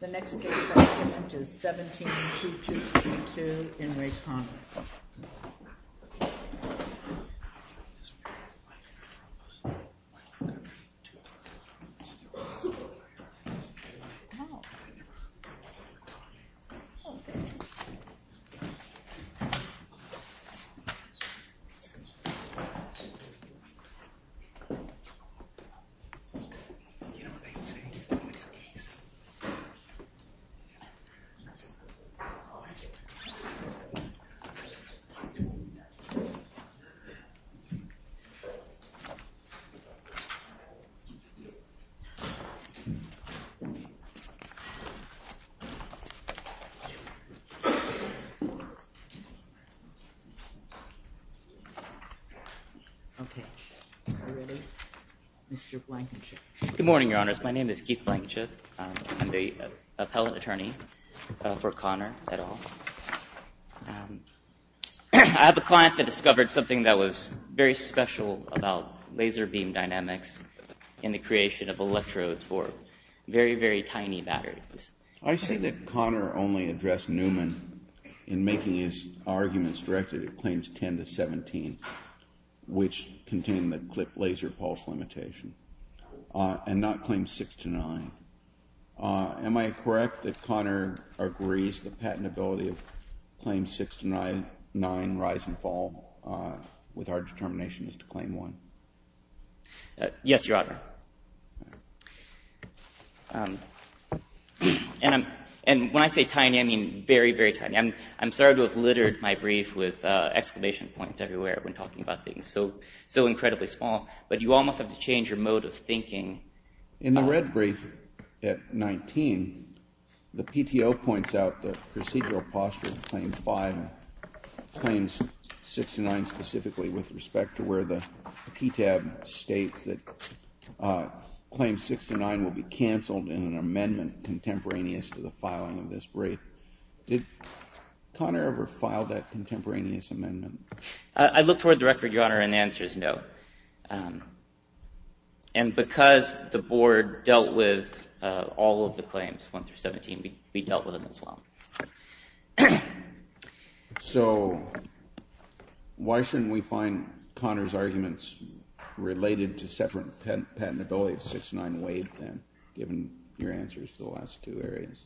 The next case is 17222 in Re Conner Okay, are we ready? Mr. Blankenship Good morning, your honors. My name is Keith Blankenship. I'm the appellate attorney for Conner et al. I have a client that discovered something that was very special about laser beam dynamics in the creation of electrodes for very, very tiny batteries. I say that Conner only addressed Newman in making his arguments directed at claims 10 to 17, which contained the laser pulse limitation, and not claims 6 to 9. Am I correct that Conner agrees that patentability of claims 6 to 9 rise and fall with our determination as to claim 1? Yes, your honor. And when I say tiny, I mean very, very tiny. I'm sorry to have littered my brief with exclamation points everywhere when talking about things so incredibly small, but you almost have to change your mode of thinking. In the red brief at 19, the PTO points out the procedural posture of claim 5 and claims 6 to 9 specifically with respect to where the PTAB states that claims 6 to 9 will be canceled in an amendment contemporaneous to the filing of this brief. Did Conner ever file that contemporaneous amendment? I look toward the record, your honor, and the answer is no. And because the board dealt with all of the claims 1 through 17, we dealt with them as well. So why shouldn't we find Conner's arguments related to separate patentability of 6 to 9 waived then, given your answers to the last two areas?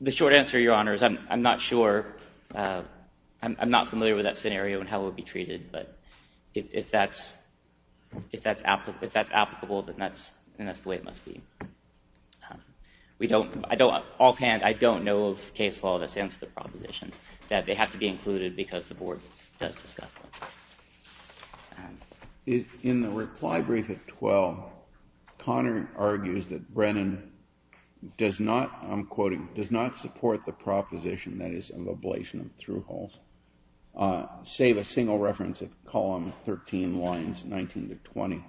The short answer, your honor, is I'm not familiar with that scenario and how it would be treated, but if that's applicable, then that's the way it must be. Offhand, I don't know of case law that stands for the proposition that they have to be included because the board does discuss them. In the reply brief at 12, Conner argues that Brennan does not, I'm quoting, does not support the proposition that is of ablation of through holes, save a single reference at column 13 lines 19 to 20.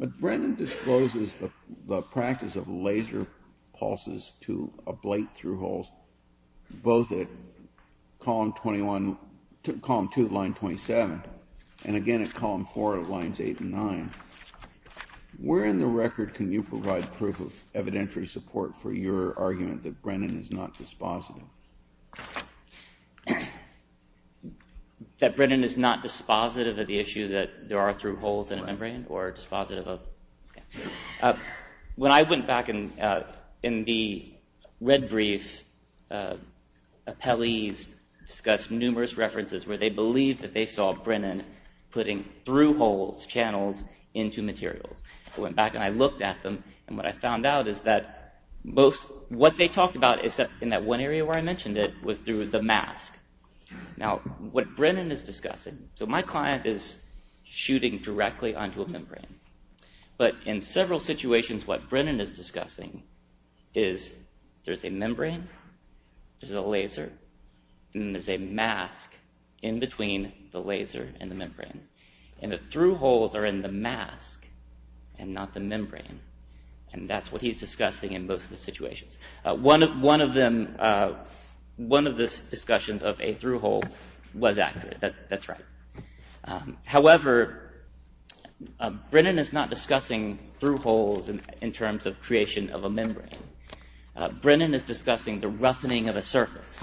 But Brennan discloses the practice of laser pulses to ablate through holes, both at column 21, column 2, line 27, and again at column 4 of lines 8 and 9. Where in the record can you provide proof of evidentiary support for your argument that Brennan is not dispositive? That Brennan is not dispositive of the issue that there are through holes in a membrane or dispositive of... When I went back in the red brief, appellees discussed numerous references where they believed that they saw Brennan putting through holes, channels, into materials. I went back and I looked at them and what I found out is that most, what they talked about in that one area where I mentioned it was through the mask. Now what Brennan is discussing, so my client is shooting directly onto a membrane, but in several situations what Brennan is discussing is there's a membrane, there's a laser, and there's a mask in between the laser and the membrane. And the through holes are in the mask and not the membrane. And that's what he's discussing in most of the situations. One of them, one of the discussions of a through hole was accurate, that's right. However, Brennan is not discussing through holes in terms of creation of a membrane. Brennan is discussing the roughening of a surface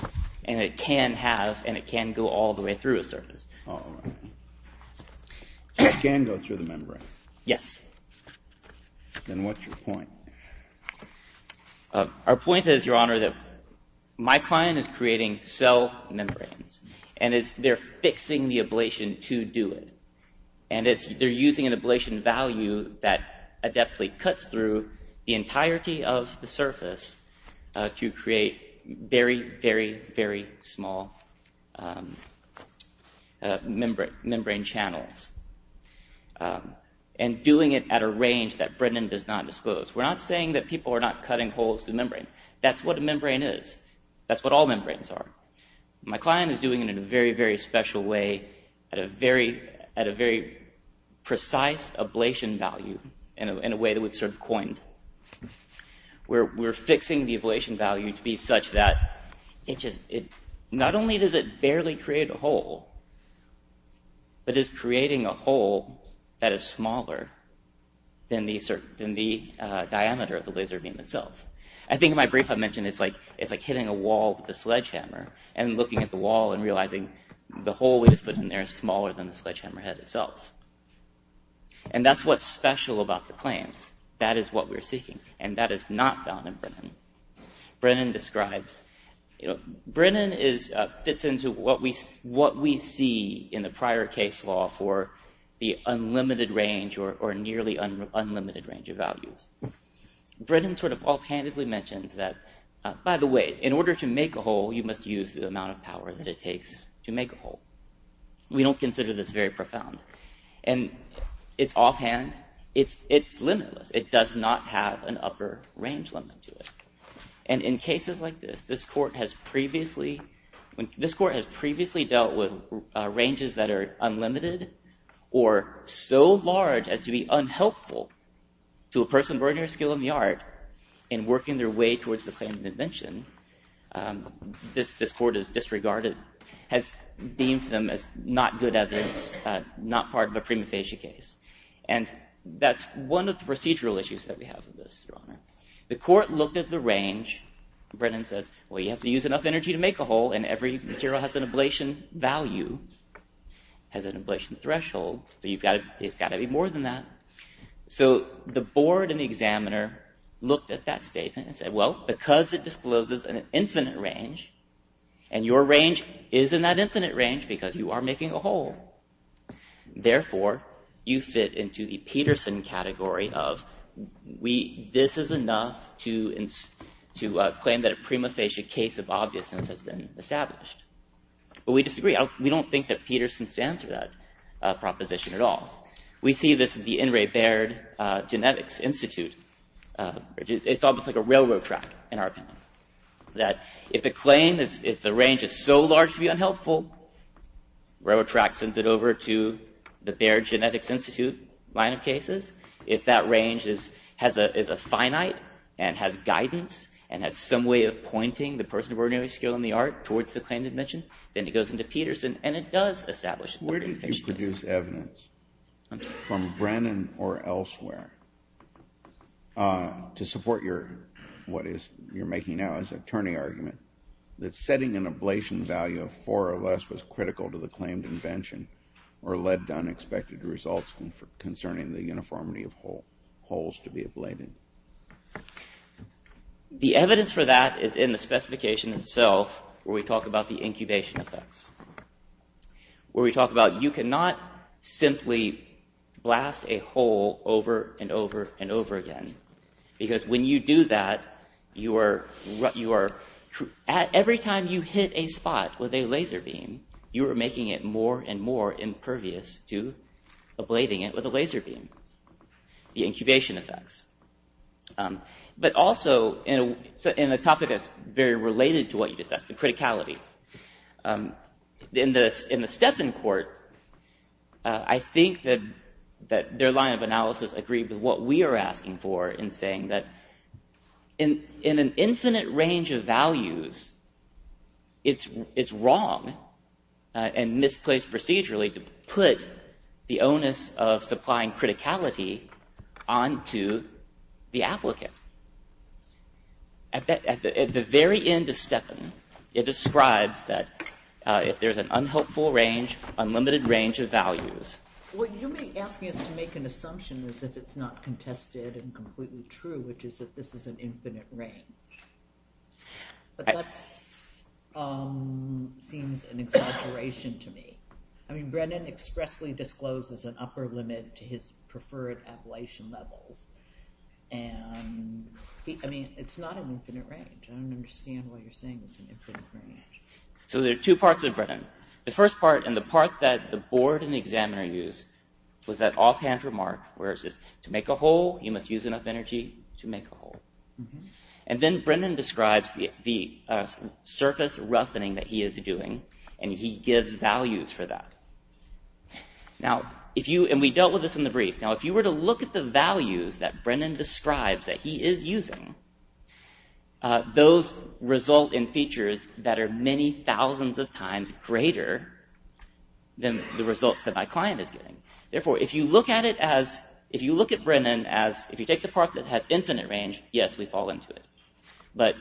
and it can have and it can go all the way through a surface. All right. It can go through the membrane. Yes. Then what's your point? Our point is, Your Honor, that my client is creating cell membranes and they're fixing the ablation to do it. And they're using an ablation value that adeptly cuts through the entirety of the surface to create very, very, very small membrane channels. And doing it at a range that Brennan does not disclose. We're not saying that people are not cutting holes through membranes. That's what a membrane is. That's what all membranes are. My client is doing it in a very, very special way at a very precise ablation value in a way that we've sort of coined. We're fixing the ablation value to be such that it just, not only does it barely create a hole, but is creating a hole that is smaller than the diameter of the laser beam itself. I think in my brief I mentioned it's like hitting a wall with a sledgehammer and looking at the wall and realizing the hole we just put in there is smaller than the sledgehammer head itself. And that's what's special about the claims. That is what we're seeking. And that is not found in Brennan. Brennan describes, Brennan fits into what we see in the prior case law for the unlimited range or nearly unlimited range of values. Brennan sort of offhandedly mentions that, by the way, in order to make a hole you must use the amount of power that it takes to make a hole. We don't consider this very profound. And it's offhand, it's limitless. It does not have an upper range limit to it. And in cases like this, this court has previously dealt with ranges that are unlimited or so large as to be unhelpful to a person born near a skill in the art in working their way towards the claim of invention. This court has disregarded, has deemed them as not good evidence, not part of a prima facie case. And that's one of the procedural issues that we have in this, Your Honor. The court looked at the range. Brennan says, well, you have to use enough energy to make a hole and every material has an ablation value, has an ablation threshold, so it's got to be more than that. So the board and the examiner looked at that statement and said, well, because it discloses an infinite range, and your range is in that infinite range because you are making a hole. Therefore, you fit into the Peterson category of, this is enough to claim that a prima facie case of obviousness has been established. But we disagree. We don't think that Peterson stands for that proposition at all. We see this in the In re Baird Genetics Institute. It's almost like a railroad track, in our opinion. That if the claim is, if the range is so large to be unhelpful, railroad track sends it over to the Baird Genetics Institute line of cases. If that range is, has a finite and has guidance and has some way of pointing the person of ordinary skill in the art towards the claim of invention, then it goes into Peterson and it does establish a prima facie case. Where did you produce evidence from Brennan or elsewhere to support your, what is, you're argument that setting an ablation value of four or less was critical to the claimed invention or led to unexpected results concerning the uniformity of holes to be ablated? The evidence for that is in the specification itself where we talk about the incubation effects. Where we talk about you cannot simply blast a hole over and over and over again because when you do that, you are, every time you hit a spot with a laser beam, you are making it more and more impervious to ablating it with a laser beam, the incubation effects. But also in a topic that's very related to what you just asked, the criticality, in the art in saying that in an infinite range of values, it's wrong and misplaced procedurally to put the onus of supplying criticality onto the applicant. At the very end of Stepan, it describes that if there's an unhelpful range, unlimited range of values. What you're asking is to make an assumption as if it's not contested and completely true, which is that this is an infinite range. But that seems an exaggeration to me. I mean, Brennan expressly discloses an upper limit to his preferred ablation levels. I mean, it's not an infinite range. I don't understand why you're saying it's an infinite range. So there are two parts of Brennan. The first part and the part that the board and the examiner use was that offhand remark where it says, to make a hole, you must use enough energy to make a hole. And then Brennan describes the surface roughening that he is doing, and he gives values for that. Now, if you, and we dealt with this in the brief. Now, if you were to look at the values that Brennan describes that he is using, those result in features that are many thousands of times greater than the results that my client is getting. Therefore, if you look at it as, if you look at Brennan as, if you take the part that has infinite range, yes, we fall into it. But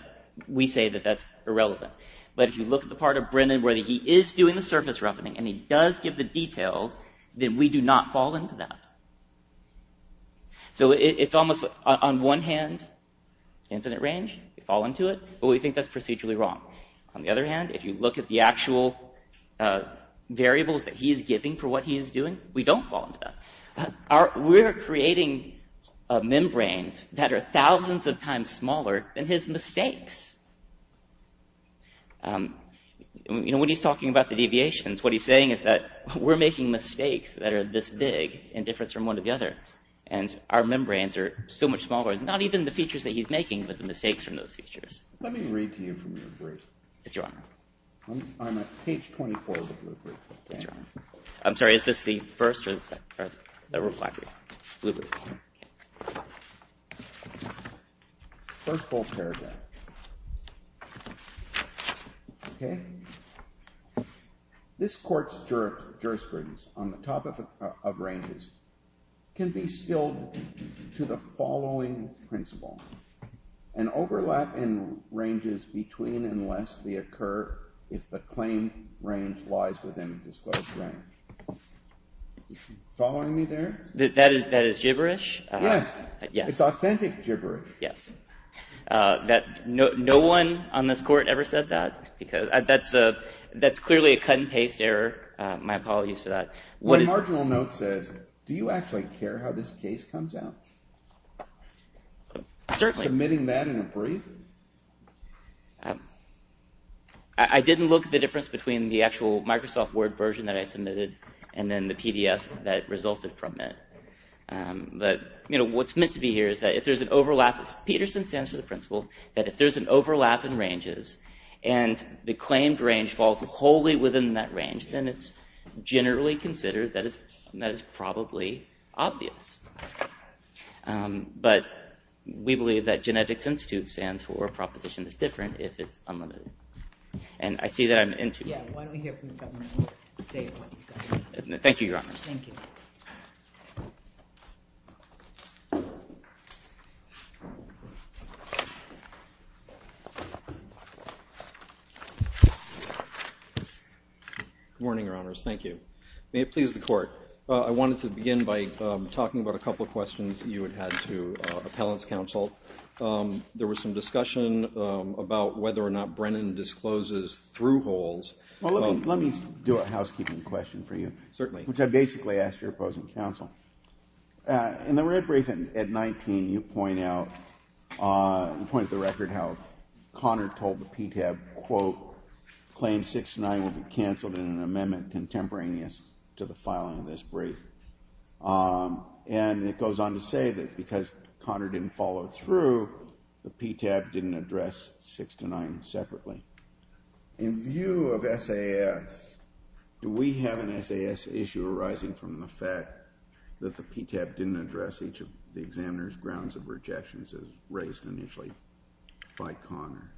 we say that that's irrelevant. But if you look at the part of Brennan where he is doing the surface roughening and he does give the details, then we do not fall into that. So it's almost, on one hand, infinite range, we fall into it, but we think that's procedurally wrong. On the other hand, if you look at the actual variables that he is giving for what he is doing, we don't fall into that. We're creating membranes that are thousands of times smaller than his mistakes. You know, when he's talking about the deviations, what he's saying is that we're making mistakes that are this big in difference from one to the other. And our membranes are so much smaller, not even the mistakes from those features. Let me read to you from your brief. Yes, Your Honor. I'm at page 24 of the blue brief. Yes, Your Honor. I'm sorry, is this the first or the second? The black brief. Blue brief. First full paragraph. Okay? This Court's jurisprudence on the topic of ranges can be appealed to the following principle. An overlap in ranges between and lest they occur if the claim range lies within a disclosed range. Are you following me there? That is gibberish. Yes. It's authentic gibberish. Yes. No one on this Court ever said that. That's clearly a cut-and-paste error. My apologies for that. One marginal note says, do you actually care how this case comes out? Certainly. Submitting that in a brief? I didn't look at the difference between the actual Microsoft Word version that I submitted and then the PDF that resulted from it. But, you know, what's meant to be here is that if there's an overlap, Peterson stands for the principle, that if there's an overlap in ranges and the claimed range falls wholly within that range, then it's generally considered that it's probably obvious. But we believe that genetics institute stands for a proposition that's different if it's unlimited. And I see that I'm into it. Yeah. Why don't we hear from the government? Thank you, Your Honors. Thank you. Good morning, Your Honors. Thank you. May it please the Court. I wanted to begin by talking about a couple of questions you had had to Appellant's counsel. There was some discussion about whether or not Brennan discloses through holes. Well, let me do a housekeeping question for you. Certainly. Which I basically asked your opposing counsel. In the red brief at 19, you point out, you point to the record how Connor told the PTAB, quote, claim 6 to 9 will be canceled in an amendment contemporaneous to the filing of this brief. And it goes on to say that because Connor didn't follow through, the PTAB didn't address 6 to 9 separately. In view of SAS, do we have an SAS issue arising from the fact that the PTAB didn't address each of the examiner's grounds of rejections as raised initially by Connor?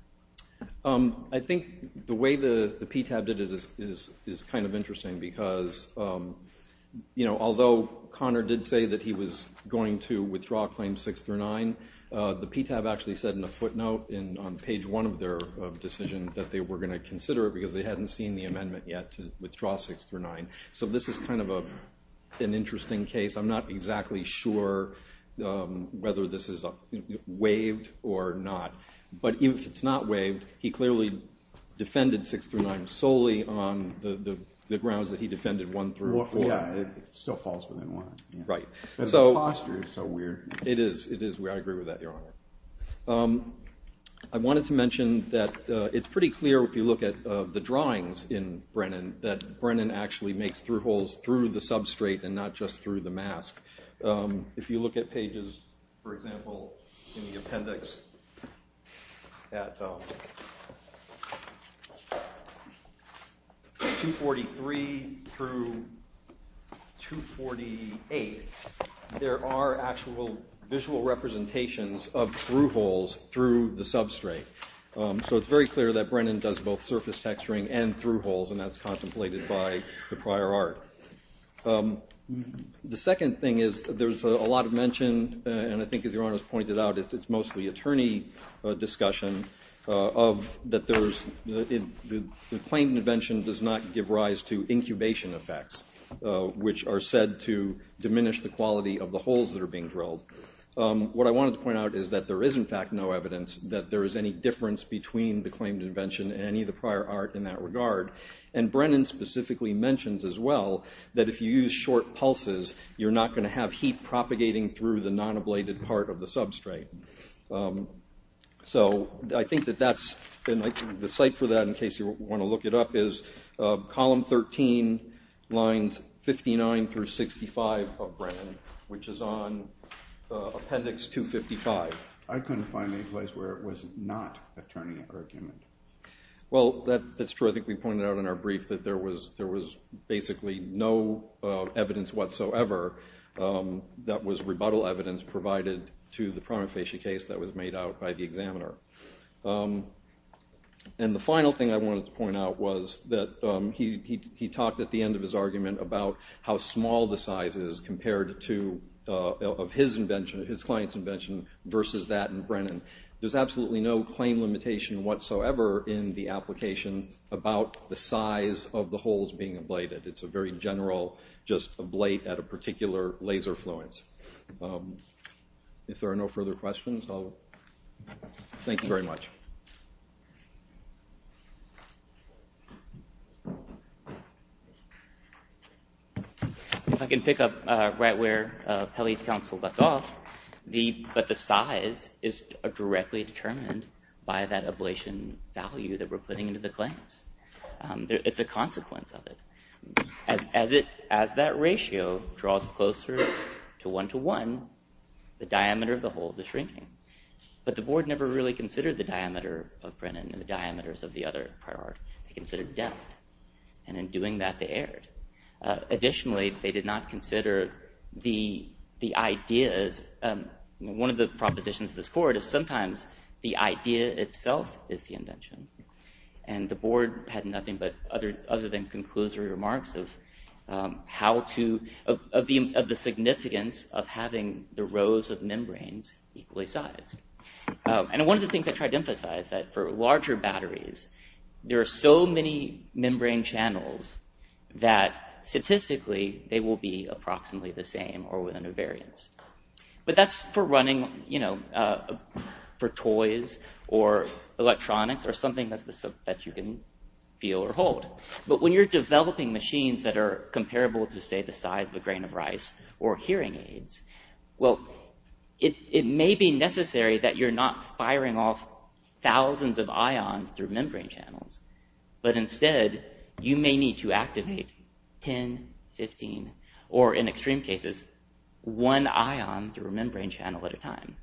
I think the way the PTAB did it is kind of interesting because, you know, although Connor did say that he was going to withdraw claims 6 through 9, the PTAB actually said in a footnote on page 1 of their decision that they were going to consider it because they hadn't seen the amendment yet to withdraw 6 through 9. So this is kind of an interesting case. I'm not exactly sure whether this is waived or not. But even if it's not waived, he clearly defended 6 through 9 solely on the grounds that he defended 1 through 4. Yeah, it still falls within 1. Right. The posture is so weird. It is. I agree with that, Your Honor. I wanted to mention that it's pretty clear if you look at the drawings in Brennan that it's not just through the mask. If you look at pages, for example, in the appendix at 243 through 248, there are actual visual representations of through holes through the substrate. So it's very clear that Brennan does both surface texturing and through holes, and that's contemplated by the prior art. The second thing is there's a lot of mention, and I think as Your Honor has pointed out, it's mostly attorney discussion, that the claimed invention does not give rise to incubation effects, which are said to diminish the quality of the holes that are being drilled. What I wanted to point out is that there is, in fact, no evidence that there is any difference between the claimed invention and any of the prior art in that regard, and Brennan specifically mentions as well that if you use short pulses, you're not going to have heat propagating through the non-ablated part of the substrate. So I think that that's the site for that, in case you want to look it up, is column 13, lines 59 through 65 of Brennan, which is on appendix 255. I couldn't find any place where it was not attorney argument. Well, that's true. I think we pointed out in our brief that there was basically no evidence whatsoever that was rebuttal evidence provided to the prima facie case that was made out by the examiner. And the final thing I wanted to point out was that he talked at the end of his argument about how small the size is compared to his client's invention versus that in Brennan. There's absolutely no claim limitation whatsoever in the application about the size of the holes being ablated. It's a very general just ablate at a particular laser fluence. If there are no further questions, thank you very much. If I can pick up right where Kelly's counsel left off, but the size is directly determined by that ablation value that we're putting into the claims. It's a consequence of it. As that ratio draws closer to one to one, the diameter of the holes is shrinking. But the board never really considered the diameter of Brennan and the diameters of the other prior art. They considered depth. And in doing that, they erred. Additionally, they did not consider the ideas. One of the propositions of this court is sometimes the idea itself is the invention. And the board had nothing but other than conclusory remarks of how to of the significance of having the rows of membranes equally sized. And one of the things I tried to emphasize is that for larger batteries, there are so many membrane channels that statistically, they will be approximately the same or within a variance. But that's for running, you know, for toys or electronics or something that you can feel or hold. But when you're developing machines that are comparable to, say, the size of a grain of rice or hearing aids, well, it may be necessary that you're not firing off thousands of ions through membrane channels. But instead, you may need to activate 10, 15, or in extreme cases, one ion through a membrane channel at a time.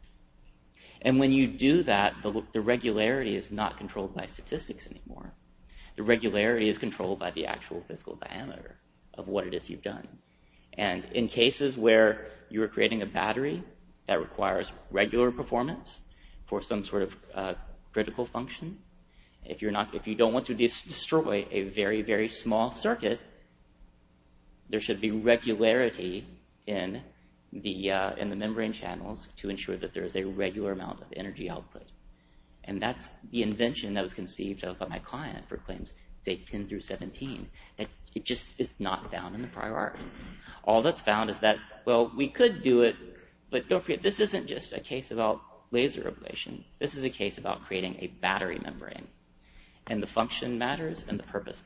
And when you do that, the regularity is not controlled by statistics anymore. The regularity is controlled by the actual physical diameter of what it is you've done. And in cases where you're creating a battery that requires regular performance for some sort of critical function, if you don't want to destroy a very, very small circuit, there should be regularity in the membrane channels to ensure that there is a regular amount of energy output. And that's the invention that was conceived of by my client for claims, say, 10 through 17. It just is not found in the prior art. All that's found is that, well, we could do it, but don't forget, this isn't just a case about laser ablation. This is a case about creating a battery membrane. And the function matters and the purpose matters. Thank you.